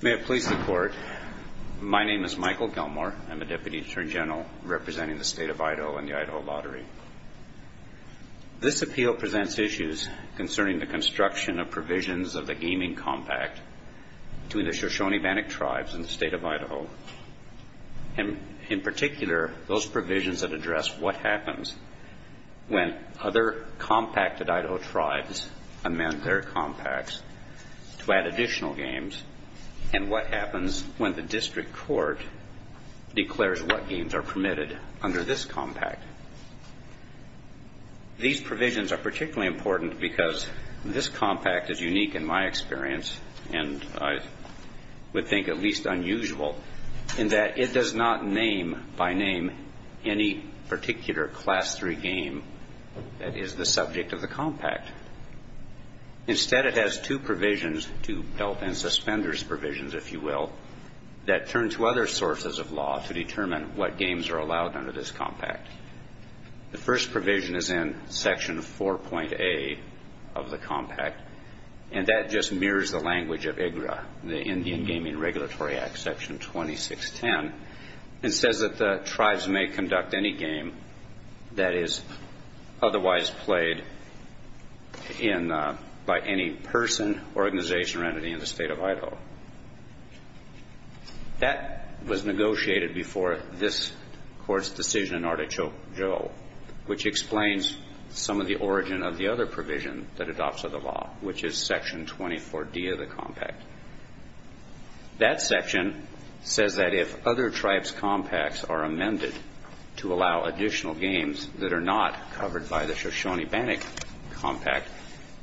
May it please the Court, my name is Michael Gilmore. I'm a Deputy Attorney General representing the State of Idaho and the Idaho Lottery. This appeal presents issues concerning the construction of provisions of the gaming compact between the Shoshone-Bannock Tribes and the State of Idaho. In particular, those provisions that address what happens when other compacted to add additional games, and what happens when the District Court declares what games are permitted under this compact. These provisions are particularly important because this compact is unique in my experience, and I would think at least unusual, in that it does not name by name any particular Class III game that is the subject of the compact. Instead, it has two provisions, two belt and suspenders provisions, if you will, that turn to other sources of law to determine what games are allowed under this compact. The first provision is in Section 4.A of the compact, and that just mirrors the language of IGRA, the Indian Tribes May Conduct Any Game That Is Otherwise Played By Any Person, Organization, or Entity in the State of Idaho. That was negotiated before this Court's decision in Artichoke Joe, which explains some of the origin of the other provision that adopts of the law, which is Section 24.D of the compact. That section says that if other tribes' compacts are amended to allow additional games that are not covered by the Shoshone-Bannock Compact,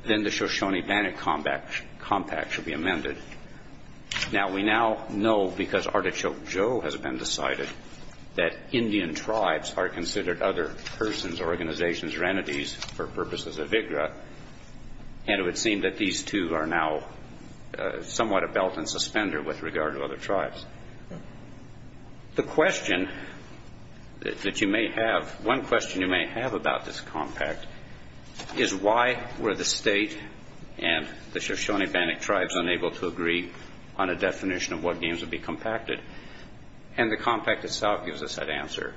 then the Shoshone-Bannock Compact should be amended. Now, we now know, because Artichoke Joe has been decided, that Indian tribes are considered other persons, organizations, or purposes of IGRA, and it would seem that these two are now somewhat a belt and suspender with regard to other tribes. The question that you may have, one question you may have about this compact is why were the state and the Shoshone-Bannock tribes unable to agree on a definition of what games would be compacted? And the compact itself gives us that answer.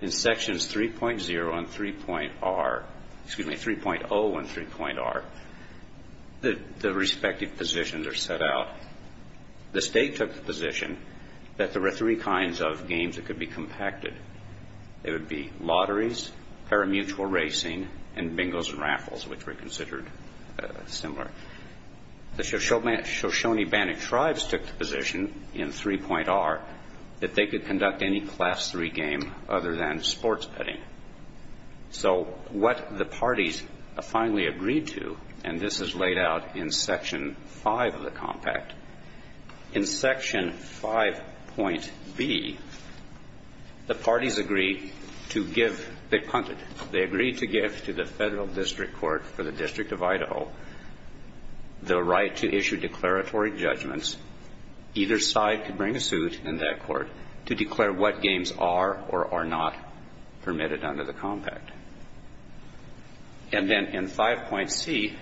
In Sections 3.0 and 3.R, the respective positions are set out. The state took the position that there were three kinds of games that could be compacted. They would be lotteries, parimutuel racing, and bingos and raffles, which were considered similar. The Shoshone-Bannock tribes took the position in 3.R that they could conduct any Class III game other than sports betting. So what the parties finally agreed to, and this is laid out in Section 5 of the compact, in Section 5.B, the parties agreed to give, they punted, they agreed to give to the Federal District Court for the District of Idaho the right to issue declaratory judgments. Either side could bring a suit in that court to declare what games are or are not permitted under the compact. And then in 5.C,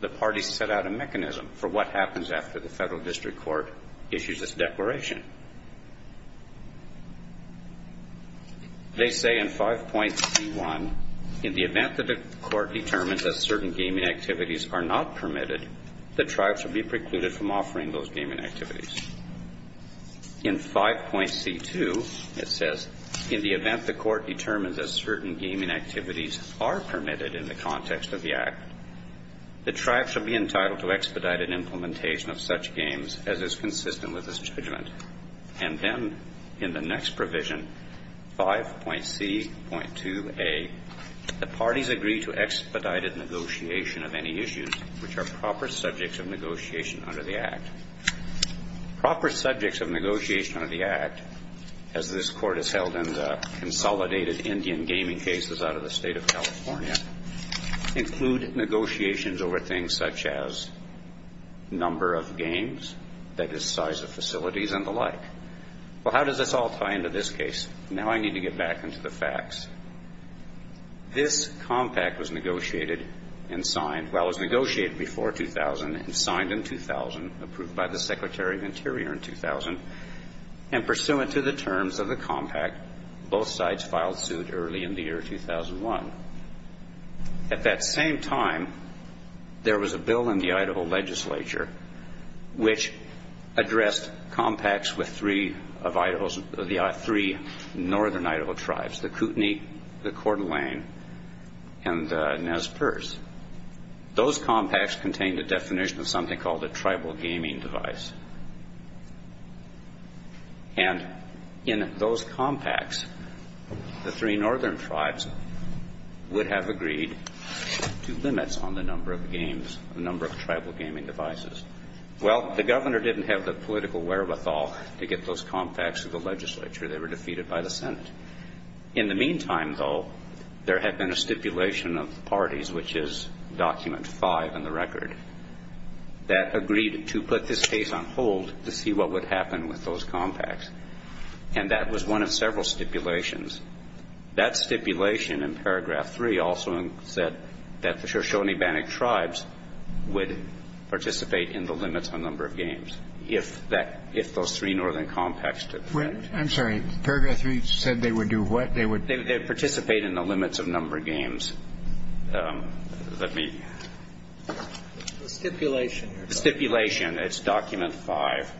the parties set out a mechanism for what happens after the Federal District Court issues its declaration. They say in 5.C.1, in the event that the court determines that certain gaming activities are not permitted, the tribes will be precluded from offering those gaming activities. In 5.C.2, it says, in the event the court determines that certain gaming activities are permitted in the context of the Act, the tribes will be entitled to expedited implementation of such games as is consistent with this judgment. And then in the next provision, 5.C.2a, the parties subjects of negotiation under the Act. Proper subjects of negotiation under the Act, as this Court has held in the consolidated Indian gaming cases out of the State of California, include negotiations over things such as number of games, that is, size of facilities and the like. Well, how does this all tie into this case? Now I need to get back into the signed in 2000, approved by the Secretary of Interior in 2000, and pursuant to the terms of the compact, both sides filed suit early in the year 2001. At that same time, there was a bill in the Idaho legislature which addressed compacts with three of Idaho's, the three northern Idaho tribes, the Kootenai, the Coeur d'Alene, and the Nez Perce. Those compacts contained the definition of something called a tribal gaming device. And in those compacts, the three northern tribes would have agreed to limits on the number of games, the number of tribal gaming devices. Well, the Governor didn't have the political wherewithal to get those compacts to the legislature. They were defeated by the Senate. In the meantime, though, there had been a stipulation of the parties, which is document five in the record, that agreed to put this case on hold to see what would happen with those compacts. And that was one of several stipulations. That stipulation in paragraph three also said that the Shoshone-Bannock tribes would participate in the limits on number of games if that, if those three northern compacts took place. I'm sorry. Paragraph three said they would do what? They would participate in the limits of number of games. Let me. The stipulation. It's document five.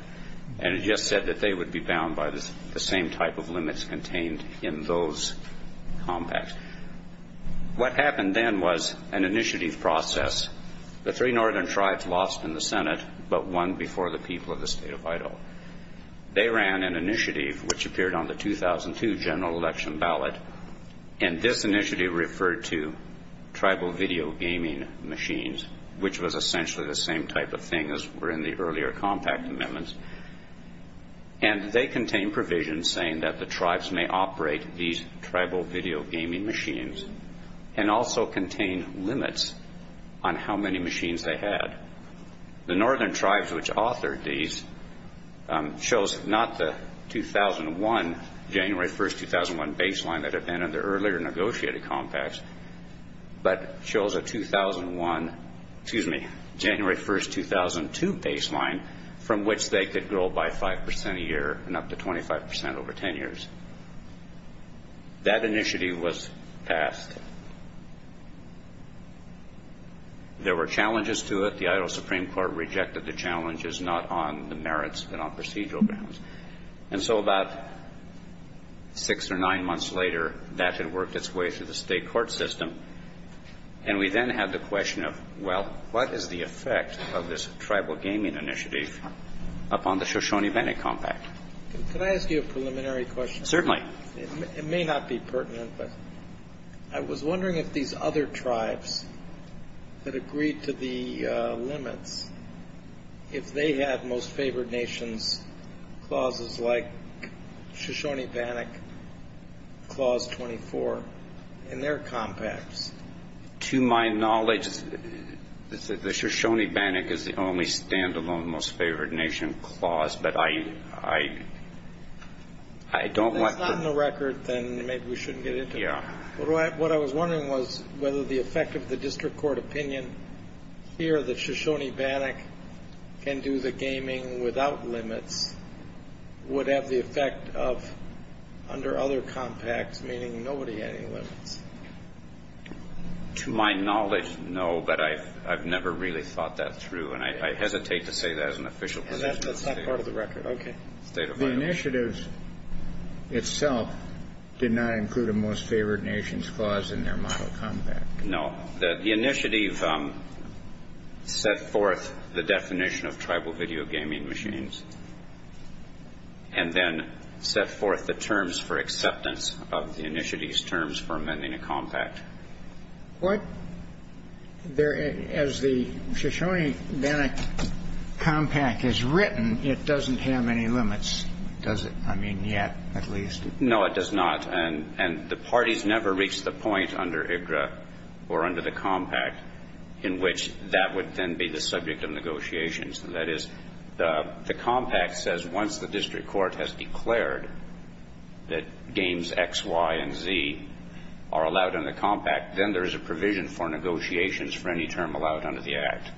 And it just said that they would be bound by the same type of limits contained in those compacts. What happened then was an initiative process. The three northern tribes lost in the Senate, but won before the people of the state of the 2002 general election ballot. And this initiative referred to tribal video gaming machines, which was essentially the same type of thing as were in the earlier compact amendments. And they contained provisions saying that the tribes may operate these tribal video gaming machines and also contain limits on how many machines they had. The northern tribes which authored these chose not the 2001, January 1st, 2001 baseline that had been in the earlier negotiated compacts, but chose a 2001, excuse me, January 1st, 2002 baseline from which they could grow by five percent a year and up to 25 percent over ten years. That initiative was passed. There were challenges to it. The Idaho Supreme Court rejected the challenges, not on the merits but on procedural grounds. And so about six or nine months later, that had worked its way through the state court system. And we then had the question of, well, what is the effect of this tribal gaming initiative upon the Shoshone-Bennet compact? Can I ask you a preliminary question? Certainly. It may not be pertinent, but I was wondering if these other tribes that agreed to the limits if they had Most Favored Nations clauses like Shoshone-Bennet Clause 24 in their compacts. To my knowledge, the Shoshone-Bennet is the only stand-alone Most Favored Nation clause, but I don't want to If it's not in the record, then maybe we shouldn't get into it. What I was wondering was whether the effect of the district court opinion here that Shoshone-Bennet can do the gaming without limits would have the effect of under other compacts, meaning nobody had any limits. To my knowledge, no, but I've never really thought that through, and I hesitate to say that as an official position. That's not part of the record. Okay. The initiatives itself did not include a Most Favored Nations clause in their model compact. No. The initiative set forth the definition of tribal video gaming machines and then set forth the terms for acceptance of the initiative's terms for amending a compact. As the Shoshone-Bennet compact is written, it doesn't have any limits, does it? I mean, yet, at least. No, it does not, and the parties never reached the point under IGRA or under the compact in which that would then be the subject of negotiations. That is, the compact says once the district court has declared that games X, Y, and Z are allowed under the compact, then there is a provision for negotiations for any term allowed under the Act.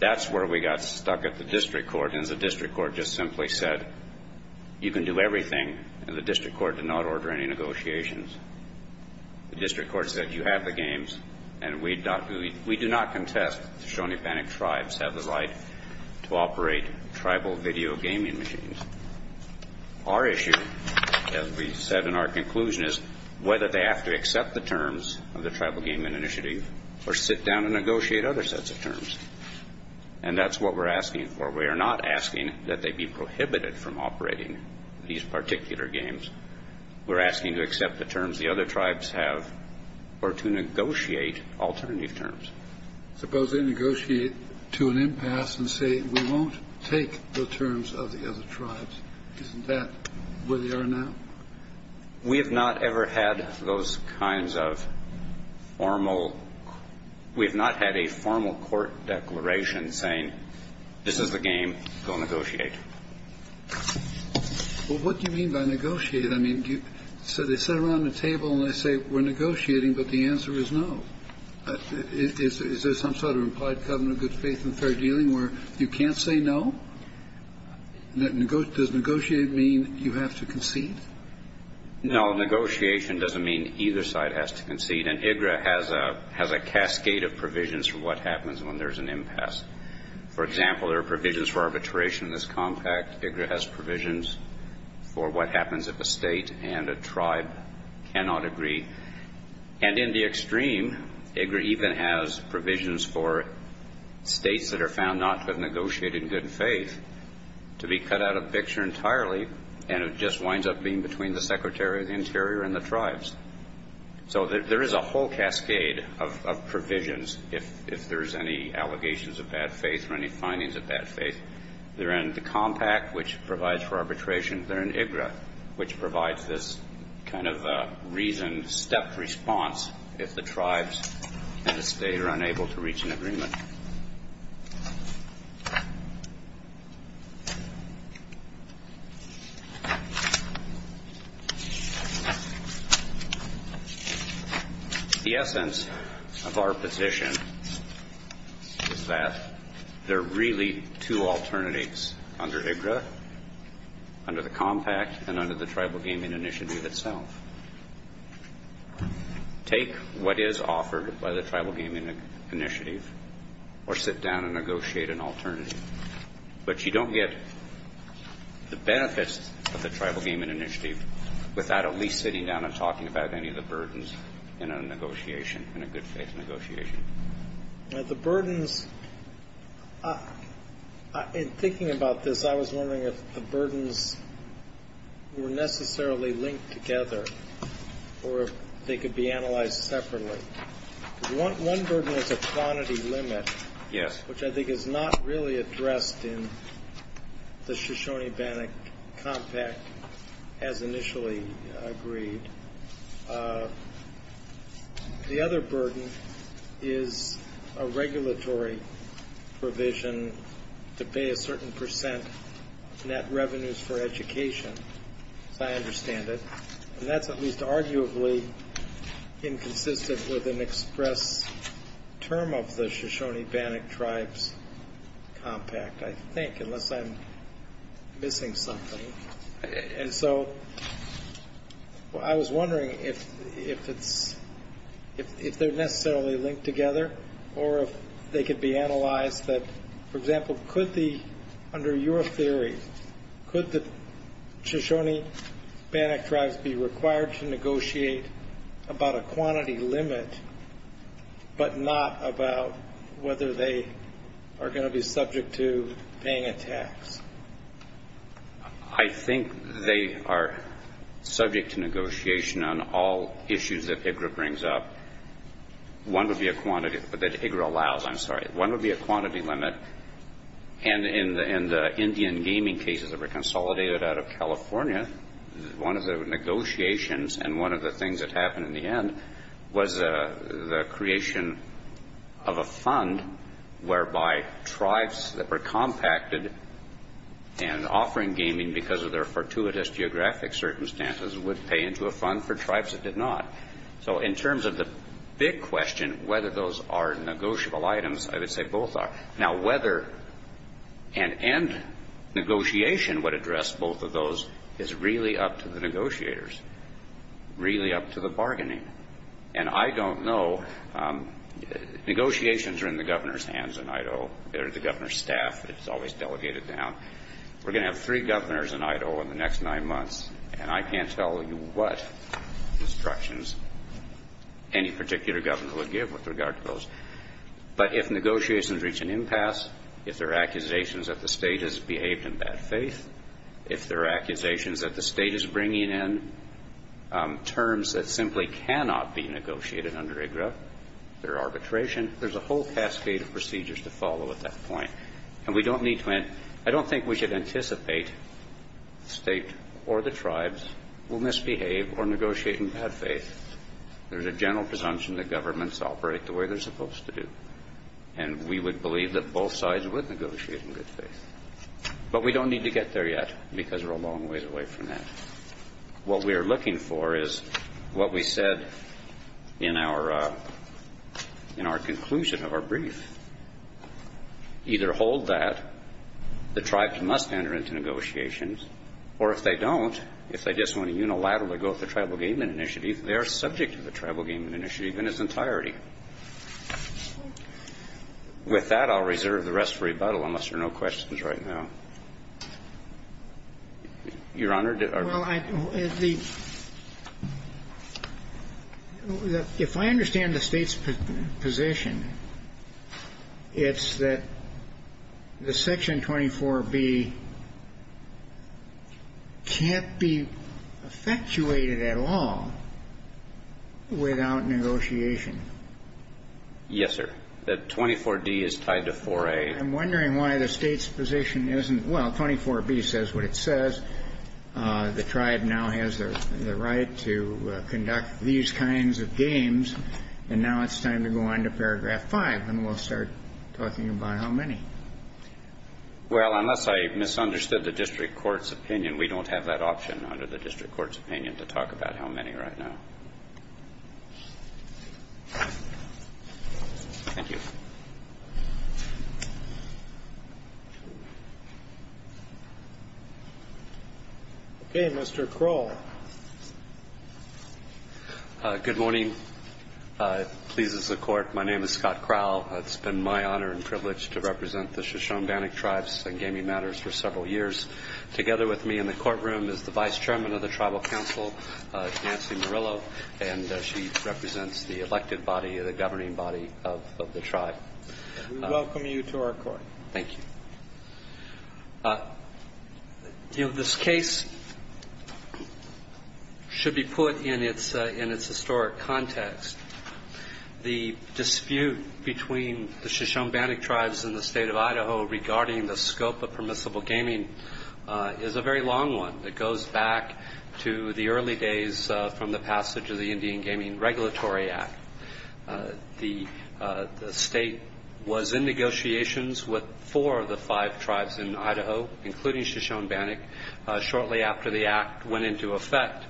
That's where we got stuck at the district court, and the district court just simply said you can do everything, and the district court did not order any negotiations. The district court said you have the games, and we do not contest the Shoshone-Bennet tribes have the right to operate tribal video gaming machines. Our issue, as we said in our conclusion, is whether they have to accept the terms of the Shoshone-Bennet tribes, or whether they have to go down and negotiate other sets of terms, and that's what we're asking for. We are not asking that they be prohibited from operating these particular games. We're asking to accept the terms the other tribes have, or to negotiate alternative terms. Suppose they negotiate to an impasse and say we won't take the terms of the other tribes. Isn't that where they are now? We have not ever had those kinds of formal we have not had a formal court declaration saying this is the game, go negotiate. Well, what do you mean by negotiate? I mean, so they sit around the table, and they say we're negotiating, but the answer is no. Is there some sort of implied covenant of good faith in fair dealing where you can't say no? Does negotiate mean you have to concede? No, negotiation doesn't mean either side has to concede, and IGRA has a cascade of provisions for what happens when there's an impasse. For example, there are provisions for arbitration in this compact. IGRA has provisions for what happens if a state and a tribe cannot agree. And in the extreme, IGRA even has provisions for states that are found not to have negotiated in good faith to be cut out of picture entirely, and it just winds up being between the Secretary of the Interior and the tribes. So there is a whole cascade of provisions if there's any allegations of bad faith or any findings of bad faith. They're in the compact, which provides for arbitration. They're in IGRA, which provides this kind of reasoned, direct response if the tribes and the state are unable to reach an agreement. The essence of our position is that there are really two alternatives under IGRA, under the compact, and under the Tribal Gaming Initiative itself. Take what is offered by the Tribal Gaming Initiative or sit down and negotiate an alternative. But you don't get the benefits of the Tribal Gaming Initiative without at least sitting down and talking about any of the burdens in a negotiation, in a good faith negotiation. Now, the burdens, in thinking about this, I was wondering if the burdens were necessarily linked together or if they could be analyzed separately. One burden is a quantity limit, which I think is not really addressed in the Shoshone-Bannock compact as initially agreed. The other burden is a regulatory provision to pay a certain percent net revenues for education, as I understand it. And that's at least arguably inconsistent with an express term of the Shoshone-Bannock tribes compact, I think, unless I'm missing something. And so I was wondering if they're necessarily linked together or if they could be analyzed. For example, under your theory, could the Shoshone-Bannock tribes be required to negotiate about a quantity limit but not about whether they are going to be subject to paying a tax? I think they are subject to negotiation on all issues that IGRA brings up. One would be a quantity, that IGRA allows, I'm sorry. One would be a quantity limit. And in the Indian gaming cases that were consolidated out of California, one of the negotiations and one of the things that happened in the end was the creation of a fund whereby tribes that were compacted and offering gaming because of their fortuitous geographic circumstances would pay into a fund for tribes that did not. So in terms of the big question, whether those are negotiable items, I would say both are. Now, whether an end negotiation would address both of those is really up to the negotiators, really up to the bargaining. And I don't know. Negotiations are in the governor's hands in Idaho. They're the governor's staff. It's always delegated down. We're going to have three governors in Idaho in the next nine months, and I can't tell you what instructions any particular governor would give with regard to those. But if negotiations reach an impasse, if there are accusations that the state has behaved in bad faith, if there are accusations that the state is bringing in terms that simply cannot be negotiated under IGRA, their arbitration, there's a whole cascade of procedures to follow at that point. And we don't need to anticipate the state or the tribes will misbehave or negotiate in bad faith. There's a general presumption that governments operate the way they're supposed to do, and we would believe that both sides would negotiate in good faith. But we don't need to get there yet because we're a long ways away from that. What we are looking for is what we said in our conclusion of our brief. Either hold that the tribes must enter into negotiations, or if they don't, if they just want to unilaterally go with the tribal gainment initiative, they are subject to the tribal gainment initiative in its entirety. With that, I'll reserve the rest for rebuttal unless there are no questions right now. Your Honor? Well, if I understand the state's position, it's that the Section 24B can't be effectuated at all without negotiation. Yes, sir. The 24D is tied to 4A. I'm wondering why the state's position isn't, well, 24B says what it says. The tribe now has the right to conduct these kinds of games, and now it's time to go on to paragraph 5, and we'll start talking about how many. Well, unless I misunderstood the district court's opinion, we don't have that option under the district court's opinion to talk about how many right now. Thank you. Okay, Mr. Crowell. Good morning. It pleases the Court. My name is Scott Crowell. It's been my honor and privilege to represent the Shoshone-Danik tribes in gaming matters for several years. Together with me in the courtroom is the Vice Chairman of the Tribal Council, Nancy Murillo, and she represents the elected body, the governing body of the tribe. We welcome you to our court. Thank you. You know, this case should be put in its historic context. The dispute between the Shoshone-Danik tribes and the state of Idaho regarding the scope of permissible gaming is a very long one. It goes back to the early days from the passage of the Indian Gaming Regulatory Act. The state was in negotiations with four of the five tribes in Idaho, including Shoshone-Danik, shortly after the act went into effect.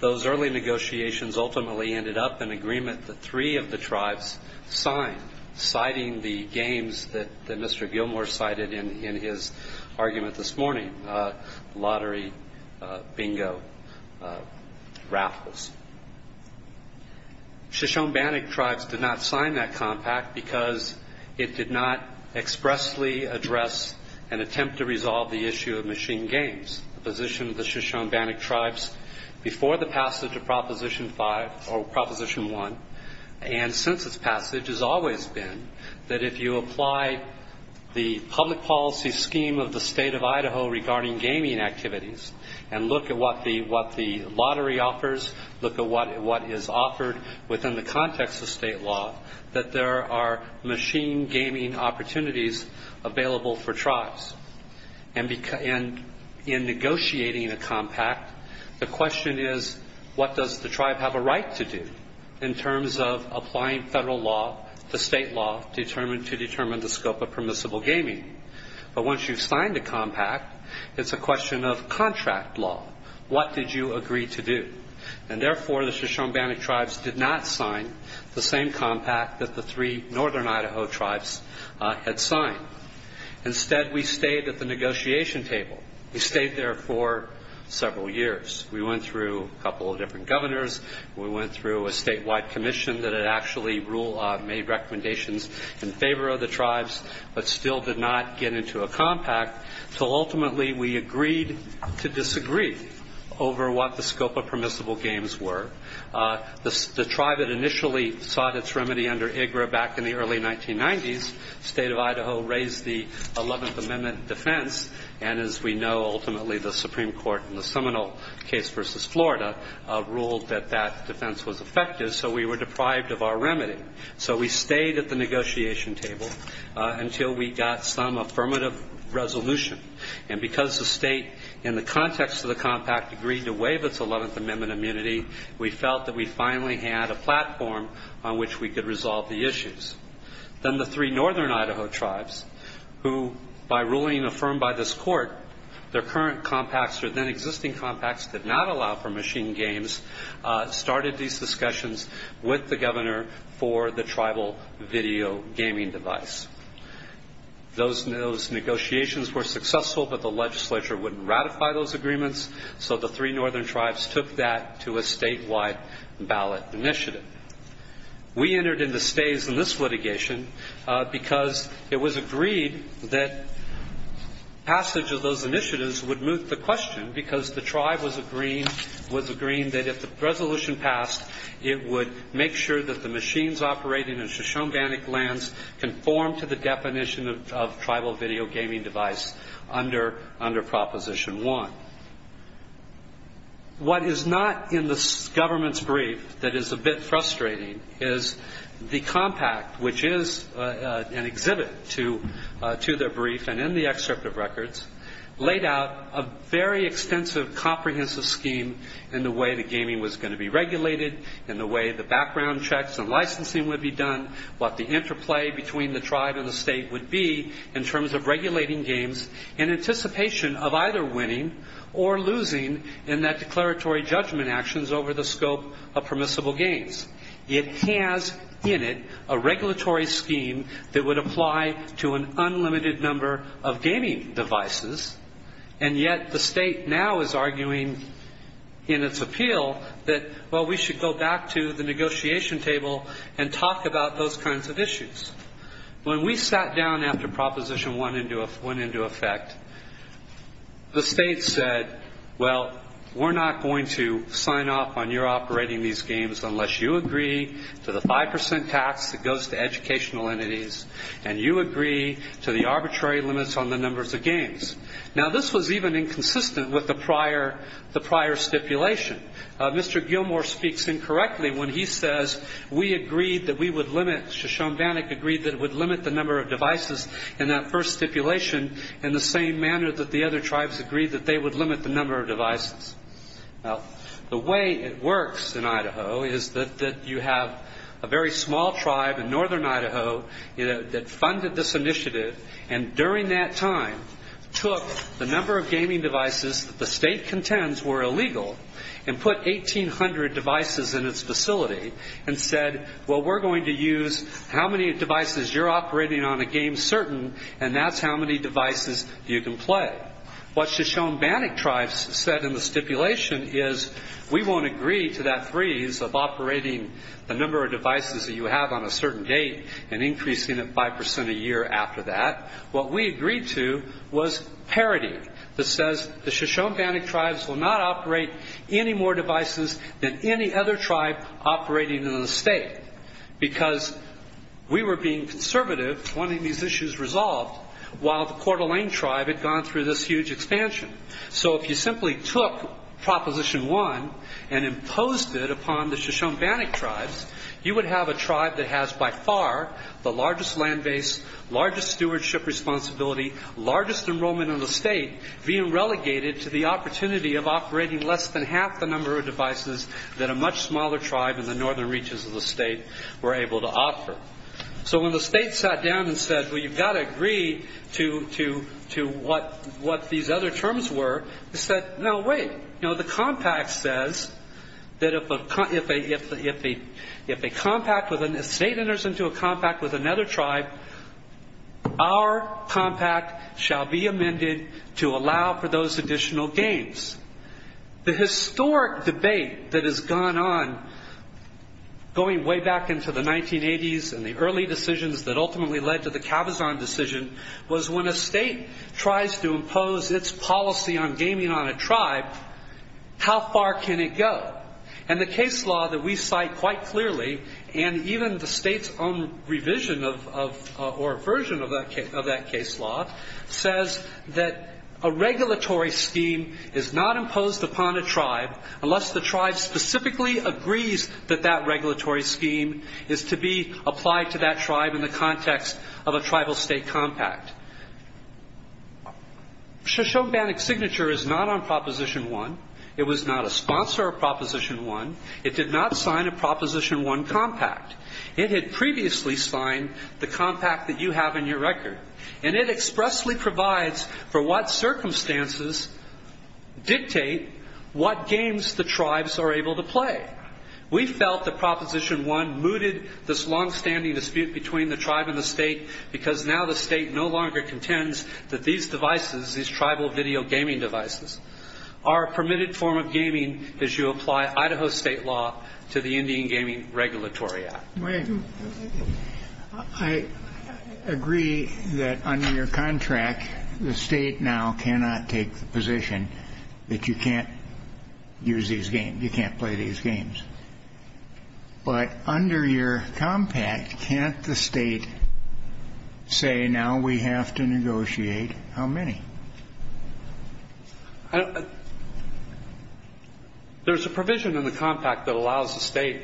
Those early negotiations ultimately ended up in agreement that three of the tribes signed, citing the games that Mr. Gilmore cited in his argument this morning, lottery, bingo, raffles. Shoshone-Danik tribes did not sign that compact because it did not expressly address an attempt to resolve the issue of machine games. The position of the Shoshone-Danik tribes before the passage of Proposition 1 and since its passage has always been that if you apply the public policy scheme of the state of Idaho regarding gaming activities and look at what the lottery offers, look at what is offered within the context of state law, and in negotiating a compact, the question is what does the tribe have a right to do in terms of applying federal law, the state law, to determine the scope of permissible gaming. But once you've signed a compact, it's a question of contract law. What did you agree to do? And therefore, the Shoshone-Danik tribes did not sign the same compact that the three northern Idaho tribes had signed. Instead, we stayed at the negotiation table. We stayed there for several years. We went through a couple of different governors. We went through a statewide commission that had actually made recommendations in favor of the tribes but still did not get into a compact until ultimately we agreed to disagree over what the scope of permissible games were. The tribe that initially sought its remedy under IGRA back in the early 1990s, the state of Idaho raised the 11th Amendment defense, and as we know, ultimately the Supreme Court in the Seminole case versus Florida ruled that that defense was effective, so we were deprived of our remedy. So we stayed at the negotiation table until we got some affirmative resolution. And because the state, in the context of the compact, agreed to waive its 11th Amendment immunity, we felt that we finally had a platform on which we could resolve the issues. Then the three northern Idaho tribes, who, by ruling affirmed by this court, their current compacts or then existing compacts did not allow for machine games, started these discussions with the governor for the tribal video gaming device. Those negotiations were successful, but the legislature wouldn't ratify those agreements, so the three northern tribes took that to a statewide ballot initiative. We entered into stays in this litigation because it was agreed that passage of those initiatives would move the question, because the tribe was agreeing that if the resolution passed, it would make sure that the machines operating in Shoshone-Bannock lands conform to the definition of tribal video gaming device under Proposition 1. What is not in the government's brief that is a bit frustrating is the compact, which is an exhibit to their brief and in the excerpt of records, laid out a very extensive comprehensive scheme in the way the gaming was going to be regulated, in the way the background checks and licensing would be done, what the interplay between the tribe and the state would be in terms of regulating games in anticipation of either winning or losing in that declaratory judgment actions over the scope of permissible games. It has in it a regulatory scheme that would apply to an unlimited number of gaming devices, and yet the state now is arguing in its appeal that, well, we should go back to the negotiation table and talk about those kinds of issues. When we sat down after Proposition 1 went into effect, the state said, well, we're not going to sign off on your operating these games unless you agree to the 5% tax that goes to educational entities, and you agree to the arbitrary limits on the numbers of games. Now, this was even inconsistent with the prior stipulation. Mr. Gilmour speaks incorrectly when he says, we agreed that we would limit, Shoshone-Bannock agreed that it would limit the number of devices in that first stipulation in the same manner that the other tribes agreed that they would limit the number of devices. Now, the way it works in Idaho is that you have a very small tribe in northern Idaho that funded this initiative and during that time took the number of gaming devices that the state contends were illegal and put 1,800 devices in its facility, and said, well, we're going to use how many devices you're operating on a game certain and that's how many devices you can play. What Shoshone-Bannock tribes said in the stipulation is, we won't agree to that freeze of operating the number of devices that you have on a certain date and increasing it 5% a year after that. What we agreed to was parity that says the Shoshone-Bannock tribes will not operate any more devices than any other tribe operating in the state because we were being conservative wanting these issues resolved while the Coeur d'Alene tribe had gone through this huge expansion. So if you simply took Proposition 1 and imposed it upon the Shoshone-Bannock tribes, you would have a tribe that has by far the largest land base, largest stewardship responsibility, largest enrollment in the state being relegated to the opportunity of operating less than half the number of devices that a much smaller tribe in the northern reaches of the state were able to offer. So when the state sat down and said, well, you've got to agree to what these other terms were, they said, no, wait. The compact says that if a state enters into a compact with another tribe, our compact shall be amended to allow for those additional gains. The historic debate that has gone on going way back into the 1980s and the early decisions that ultimately led to the Cabazon decision was when a state tries to impose its policy on gaming on a tribe, how far can it go? And the case law that we cite quite clearly and even the state's own revision or version of that case law says that a regulatory scheme is not imposed upon a tribe unless the tribe specifically agrees that that regulatory scheme is to be applied to that tribe in the context of a tribal state compact. Shoshone-Bannock's signature is not on Proposition 1. It was not a sponsor of Proposition 1. It did not sign a Proposition 1 compact. It had previously signed the compact that you have in your record. And it expressly provides for what circumstances dictate what games the tribes are able to play. We felt that Proposition 1 mooted this longstanding dispute between the tribe and the state because now the state no longer contends that these devices, these tribal video gaming devices, are a permitted form of gaming as you apply Idaho state law to the Indian Gaming Regulatory Act. I agree that under your contract the state now cannot take the position that you can't use these games, you can't play these games. But under your compact, can't the state say now we have to negotiate how many? There's a provision in the compact that allows the state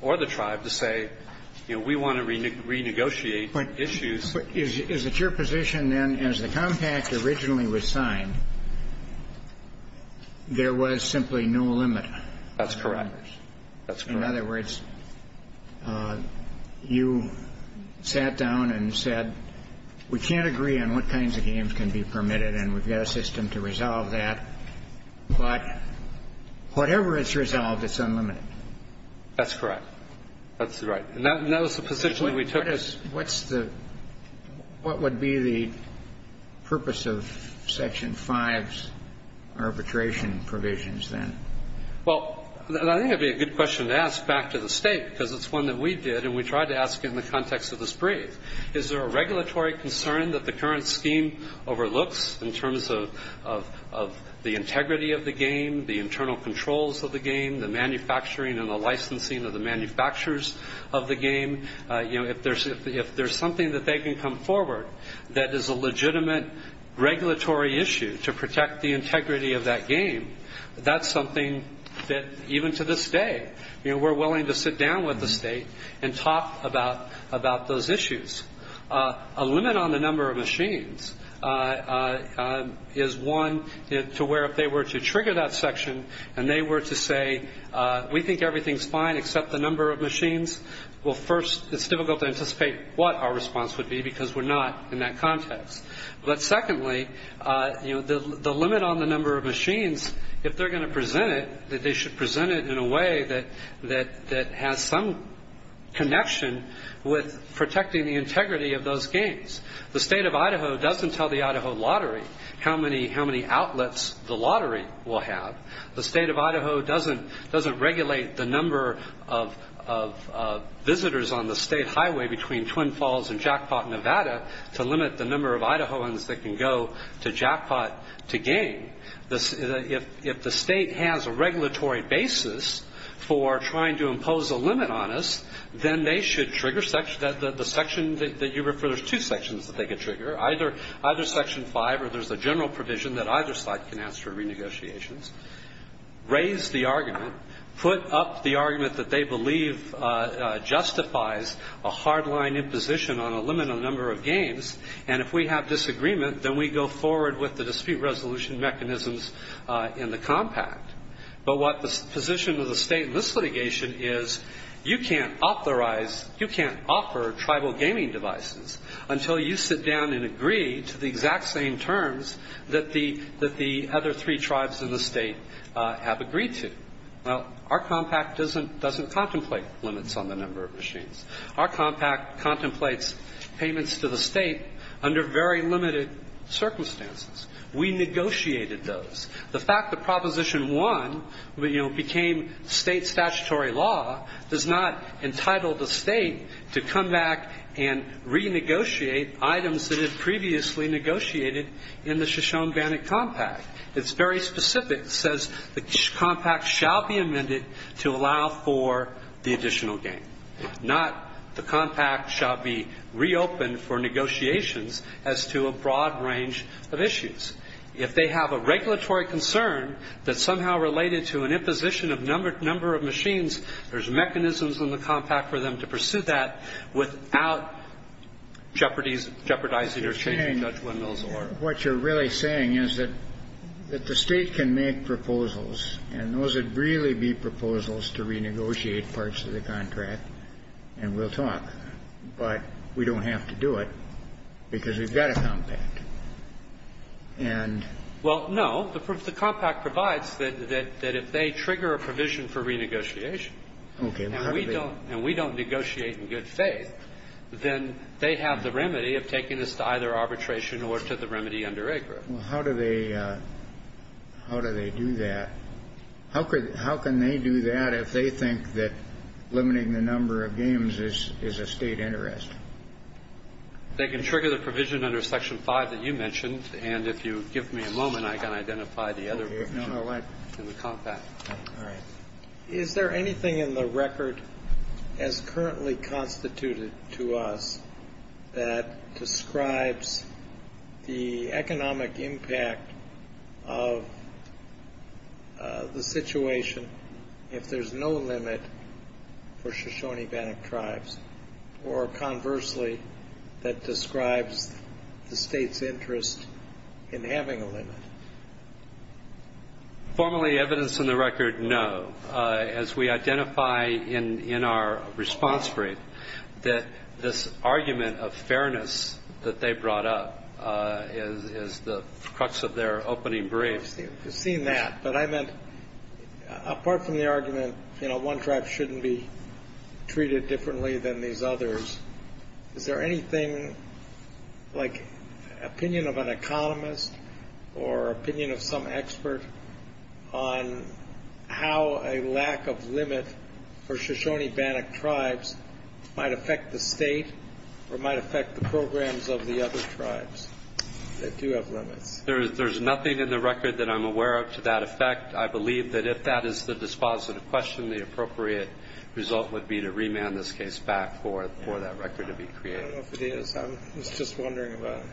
or the tribe to say, you know, we want to renegotiate issues. But is it your position then, as the compact originally was signed, there was simply no limit? That's correct. In other words, you sat down and said, we can't agree on what kinds of games can be permitted and we've got a system to resolve that. But whatever is resolved, it's unlimited. That's correct. That's right. And that was the position we took. What's the, what would be the purpose of Section 5's arbitration provisions then? Well, I think it would be a good question to ask back to the state because it's one that we did and we tried to ask in the context of this brief. Is there a regulatory concern that the current scheme overlooks in terms of the integrity of the game, the internal controls of the game, the manufacturing and the licensing of the manufacturers of the game? You know, if there's something that they can come forward that is a legitimate regulatory issue to protect the integrity of that game, that's something that even to this day, you know, we're willing to sit down with the state and talk about those issues. A limit on the number of machines is one to where if they were to trigger that section and they were to say, we think everything's fine except the number of machines, well, first, it's difficult to anticipate what our response would be because we're not in that context. But secondly, the limit on the number of machines, if they're going to present it, that they should present it in a way that has some connection with protecting the integrity of those games. The state of Idaho doesn't tell the Idaho lottery how many outlets the lottery will have. The state of Idaho doesn't regulate the number of visitors on the state highway between Twin Falls and Jackpot, Nevada, to limit the number of Idahoans that can go to Jackpot to game. If the state has a regulatory basis for trying to impose a limit on us, then they should trigger the section that you refer, there's two sections that they could trigger, either Section 5 or there's a general provision that either side can ask for renegotiations, raise the argument, put up the argument that they believe justifies a hardline imposition on a limited number of games, and if we have disagreement, then we go forward with the dispute resolution mechanisms in the compact. But what the position of the state in this litigation is, you can't authorize, you can't offer tribal gaming devices until you sit down and agree to the exact same terms that the other three tribes in the state have agreed to. Our compact doesn't contemplate limits on the number of machines. Our compact contemplates payments to the state under very limited circumstances. We negotiated those. The fact that Proposition 1 became state statutory law does not entitle the state to come back and renegotiate items that it previously negotiated in the Shoshone-Bannock compact. It's very specific. It says the compact shall be amended to allow for the additional game, not the compact shall be reopened for negotiations as to a broad range of issues. If they have a regulatory concern that's somehow related to an imposition of number of machines, there's mechanisms in the compact for them to pursue that without jeopardizing or changing Judge Wendell's order. What you're really saying is that the state can make proposals, and those would really be proposals to renegotiate parts of the contract, and we'll talk. But we don't have to do it because we've got a compact. Well, no. The compact provides that if they trigger a provision for renegotiation, and we don't negotiate in good faith, then they have the remedy of taking us to either arbitration or to the remedy under AGRU. Well, how do they do that? How can they do that if they think that limiting the number of games is a state interest? They can trigger the provision under Section 5 that you mentioned, and if you give me a moment, I can identify the other provision in the compact. All right. Is there anything in the record as currently constituted to us that describes the economic impact of the situation if there's no limit for Shoshone-Bannock tribes, or conversely, that describes the state's interest in having a limit? Formally, evidence in the record, no. As we identify in our response brief that this argument of fairness that they brought up is the crux of their opening brief. We've seen that, but I meant, apart from the argument, you know, one tribe shouldn't be treated differently than these others, is there anything like opinion of an economist or opinion of some expert on how a lack of limit for Shoshone-Bannock tribes might affect the state or might affect the programs of the other tribes that do have limits? There's nothing in the record that I'm aware of to that effect. I believe that if that is the dispositive question, the appropriate result would be to remand this case back for that record to be created. I don't know if it is. I was just wondering about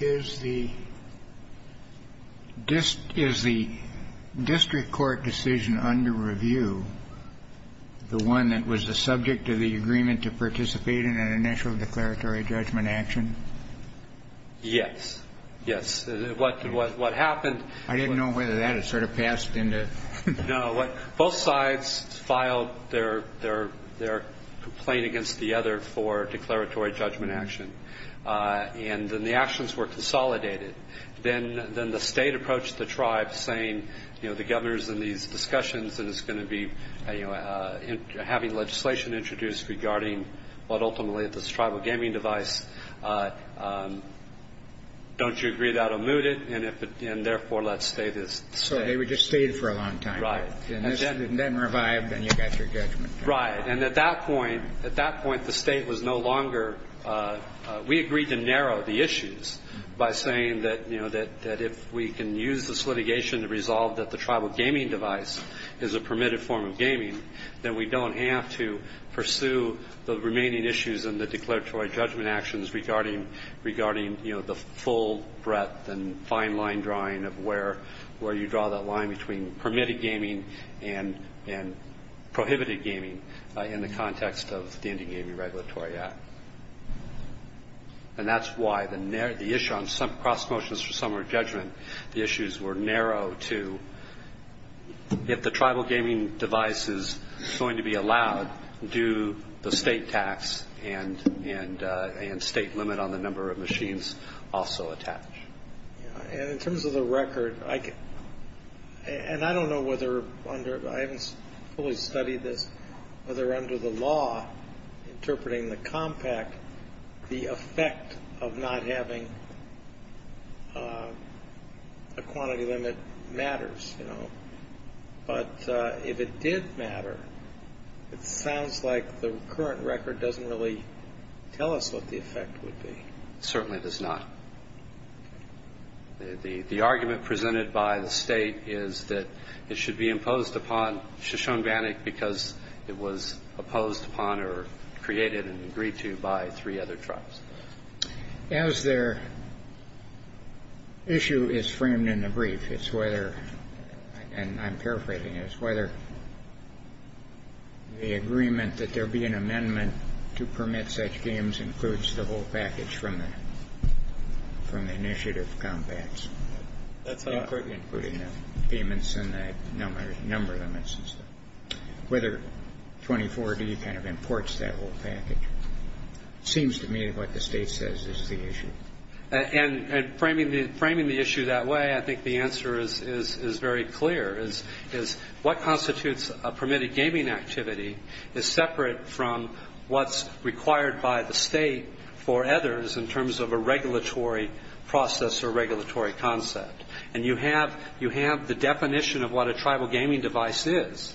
it. Is the district court decision under review, the one that was the subject of the agreement to participate in an initial declaratory judgment action? Yes. Yes. What happened? I didn't know whether that had sort of passed into... No. Both sides filed their complaint against the other for declaratory judgment action. And then the actions were consolidated. Then the state approached the tribes saying, you know, the governor's in these discussions and is going to be having legislation introduced regarding what ultimately is this tribal gaming device. Don't you agree that will mute it? And therefore, let's stay this state. So they would just stay it for a long time. Right. And then revive, then you got your judgment. Right. And at that point, the state was no longer... We agreed to narrow the issues by saying that if we can use this litigation to resolve that the tribal gaming device is a permitted form of gaming, then we don't have to pursue the remaining issues in the declaratory judgment actions regarding, you know, the full breadth and fine line drawing of where you draw that line between permitted gaming and prohibited gaming in the context of the Indie Gaming Regulatory Act. And that's why the issue on cross motions for summary judgment, the issues were narrow to if the tribal gaming device is going to be allowed, do the state tax and state limit on the number of machines also attach? And in terms of the record, and I don't know whether under... I haven't fully studied this, whether under the law interpreting the compact, the effect of not having a quantity limit matters, you know. But if it did matter, it sounds like the current record doesn't really tell us what the effect would be. It certainly does not. The argument presented by the state is that it should be imposed upon Shoshone Bannock because it was opposed upon or created and agreed to by three other tribes. As their issue is framed in the brief, it's whether, and I'm paraphrasing, it's whether the agreement that there be an amendment to permit such games includes the whole package from the initiative compacts. Including the payments and the number limits and stuff. Whether 24D kind of imports that whole package seems to me what the state says is the issue. And framing the issue that way, I think the answer is very clear, is what constitutes a permitted gaming activity is separate from what's required by the state for others in terms of a regulatory process or regulatory concept. And you have the definition of what a tribal gaming device is.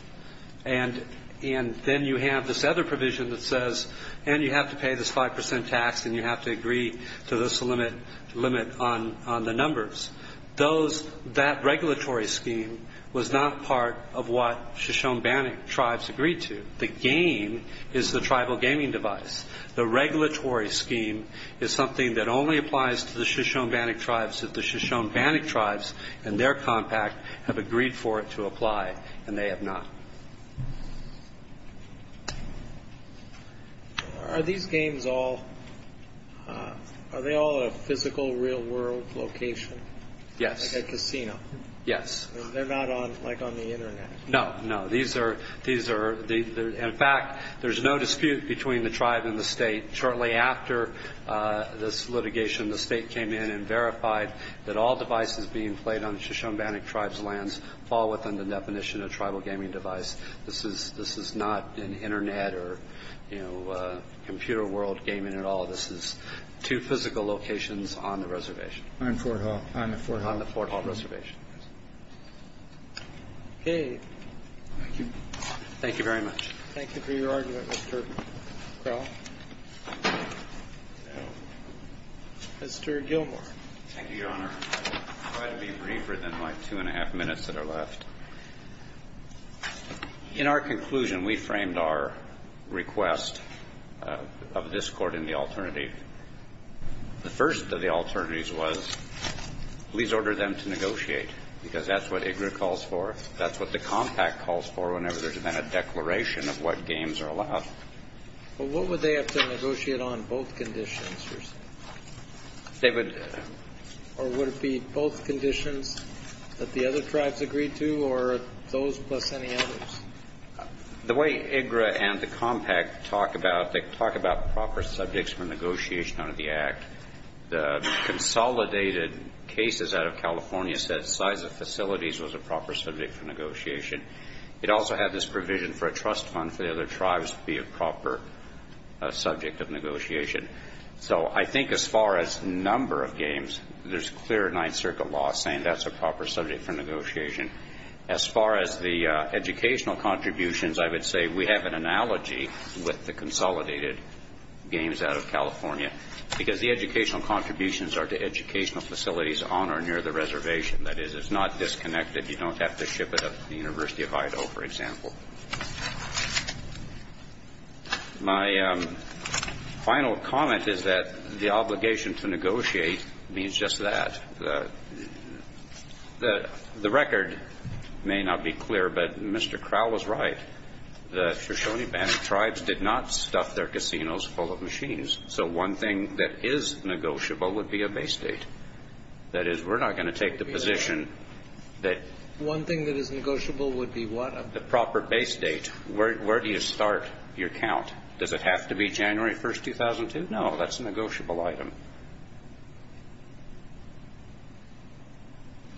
And then you have this other provision that says, and you have to pay this 5% tax and you have to agree to this limit on the numbers. That regulatory scheme was not part of what Shoshone Bannock tribes agreed to. The game is the tribal gaming device. The regulatory scheme is something that only applies to the Shoshone Bannock tribes if the Shoshone Bannock tribes and their compact have agreed for it to apply, and they have not. Are these games all, are they all a physical, real world location? Yes. Like a casino? Yes. They're not on, like on the internet? No, no. These are, in fact, there's no dispute between the tribe and the state. Shortly after this litigation, the state came in and verified that all devices being played on the Shoshone Bannock tribes' lands fall within the definition of tribal gaming device. This is not an internet or computer world gaming at all. This is two physical locations on the reservation. On Fort Hall. On the Fort Hall reservation. Okay. Thank you. Thank you very much. Thank you for your argument, Mr. Crowell. Mr. Gilmore. Thank you, Your Honor. I'm glad to be briefer than my two and a half minutes that are left. In our conclusion, we framed our request of this Court in the alternative. The first of the alternatives was, please order them to negotiate. Because that's what IGRA calls for. That's what the Compact calls for whenever there's been a declaration of what games are allowed. Well, what would they have to negotiate on both conditions? They would. Or would it be both conditions that the other tribes agreed to, or those plus any others? The way IGRA and the Compact talk about, they talk about proper subjects for negotiation under the Act. The consolidated cases out of California said size of facilities was a proper subject for negotiation. It also had this provision for a trust fund for the other tribes to be a proper subject of negotiation. So I think as far as number of games, there's clear Ninth Circuit law saying that's a proper subject for negotiation. As far as the educational contributions, I would say we have an analogy with the consolidated games out of California. Because the educational contributions are to educational facilities on or near the reservation. That is, it's not disconnected. You don't have to ship it up to the University of Idaho, for example. My final comment is that the obligation to negotiate means just that. The record may not be clear, but Mr. Crowell was right. The Shoshone Bandit tribes did not stuff their casinos full of machines. So one thing that is negotiable would be a base date. That is, we're not going to take the position that One thing that is negotiable would be what? The proper base date. Where do you start your count? Does it have to be January 1, 2002? No, that's a negotiable item.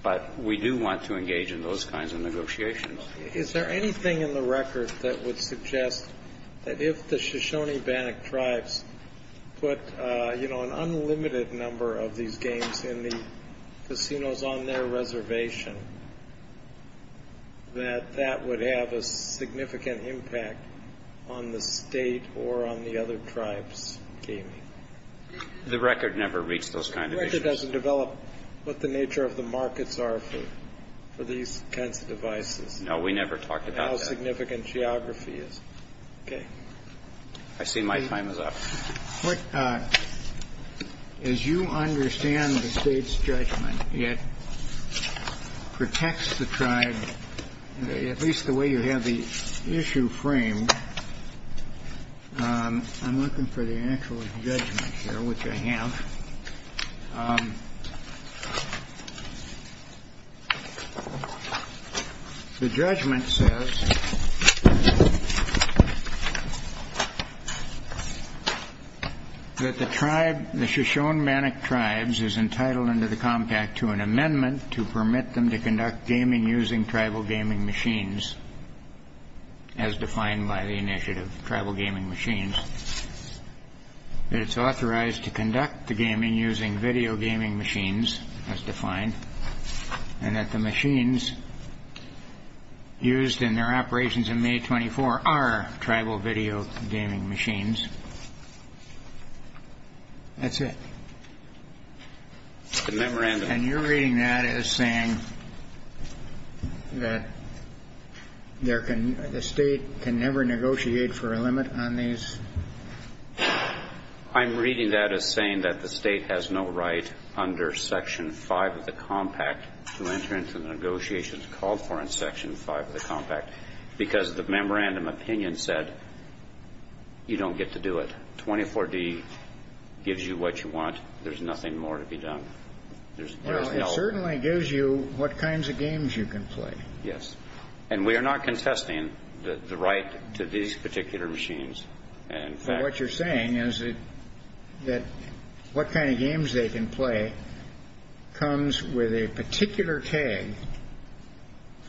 But we do want to engage in those kinds of negotiations. Is there anything in the record that would suggest that if the Shoshone Bandit tribes put an unlimited number of these games in the casinos on their reservation, that that would have a significant impact on the state or on the other tribes' gaming? The record never reached those kinds of issues. The record doesn't develop what the nature of the markets are for these kinds of devices. No, we never talked about that. I don't know how significant geography is. Okay. I see my time is up. As you understand the State's judgment, it protects the tribe, at least the way you have the issue framed. I'm looking for the actual judgment here, which I have. Okay. The judgment says that the tribe, the Shoshone Bandit tribes, is entitled under the Compact to an amendment to permit them to conduct gaming using tribal gaming machines, as defined by the initiative Tribal Gaming Machines. It's authorized to conduct the gaming using video gaming machines, as defined, and that the machines used in their operations in May 24 are tribal video gaming machines. That's it. It's the memorandum. And you're reading that as saying that the State can never negotiate for a limit on these? I'm reading that as saying that the State has no right under Section 5 of the Compact to enter into the negotiations called for in Section 5 of the Compact, because the memorandum opinion said you don't get to do it. 24D gives you what you want. There's nothing more to be done. Well, it certainly gives you what kinds of games you can play. Yes. And we are not contesting the right to these particular machines. What you're saying is that what kind of games they can play comes with a particular tag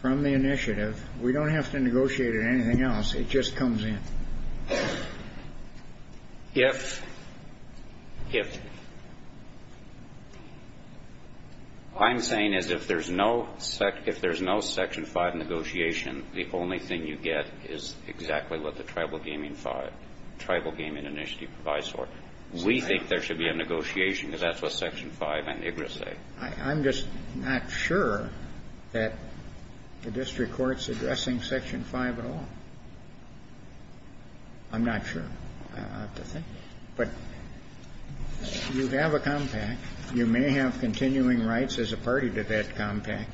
from the initiative. We don't have to negotiate it or anything else. It just comes in. If... I'm saying is if there's no Section 5 negotiation, the only thing you get is exactly what the Tribal Gaming Initiative provides for. We think there should be a negotiation, because that's what Section 5 and IGRA say. I'm just not sure that the district court's addressing Section 5 at all. I'm not sure. I'll have to think. But you have a compact. You may have continuing rights as a party to that compact,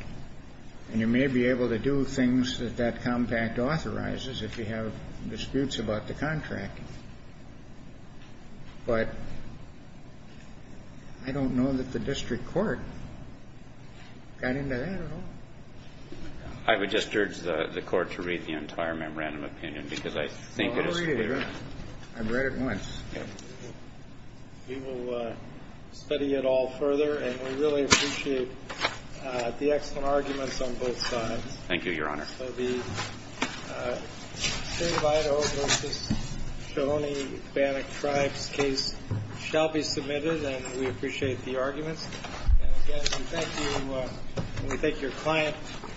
and you may be able to do things that that compact authorizes if you have disputes about the contract. But I don't know that the district court got into that at all. I would just urge the Court to read the entire memorandum opinion, because I think it is... I'll read it. I've read it once. Okay. We will study it all further, and we really appreciate the excellent arguments on both sides. Thank you, Your Honor. So the String of Idaho v. Shoshone-Ithbanic Tribes case shall be submitted, and we appreciate the arguments. And, again, we thank you, and we thank your client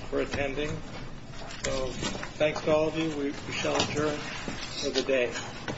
for attending. So thanks to all of you. We shall adjourn for the day.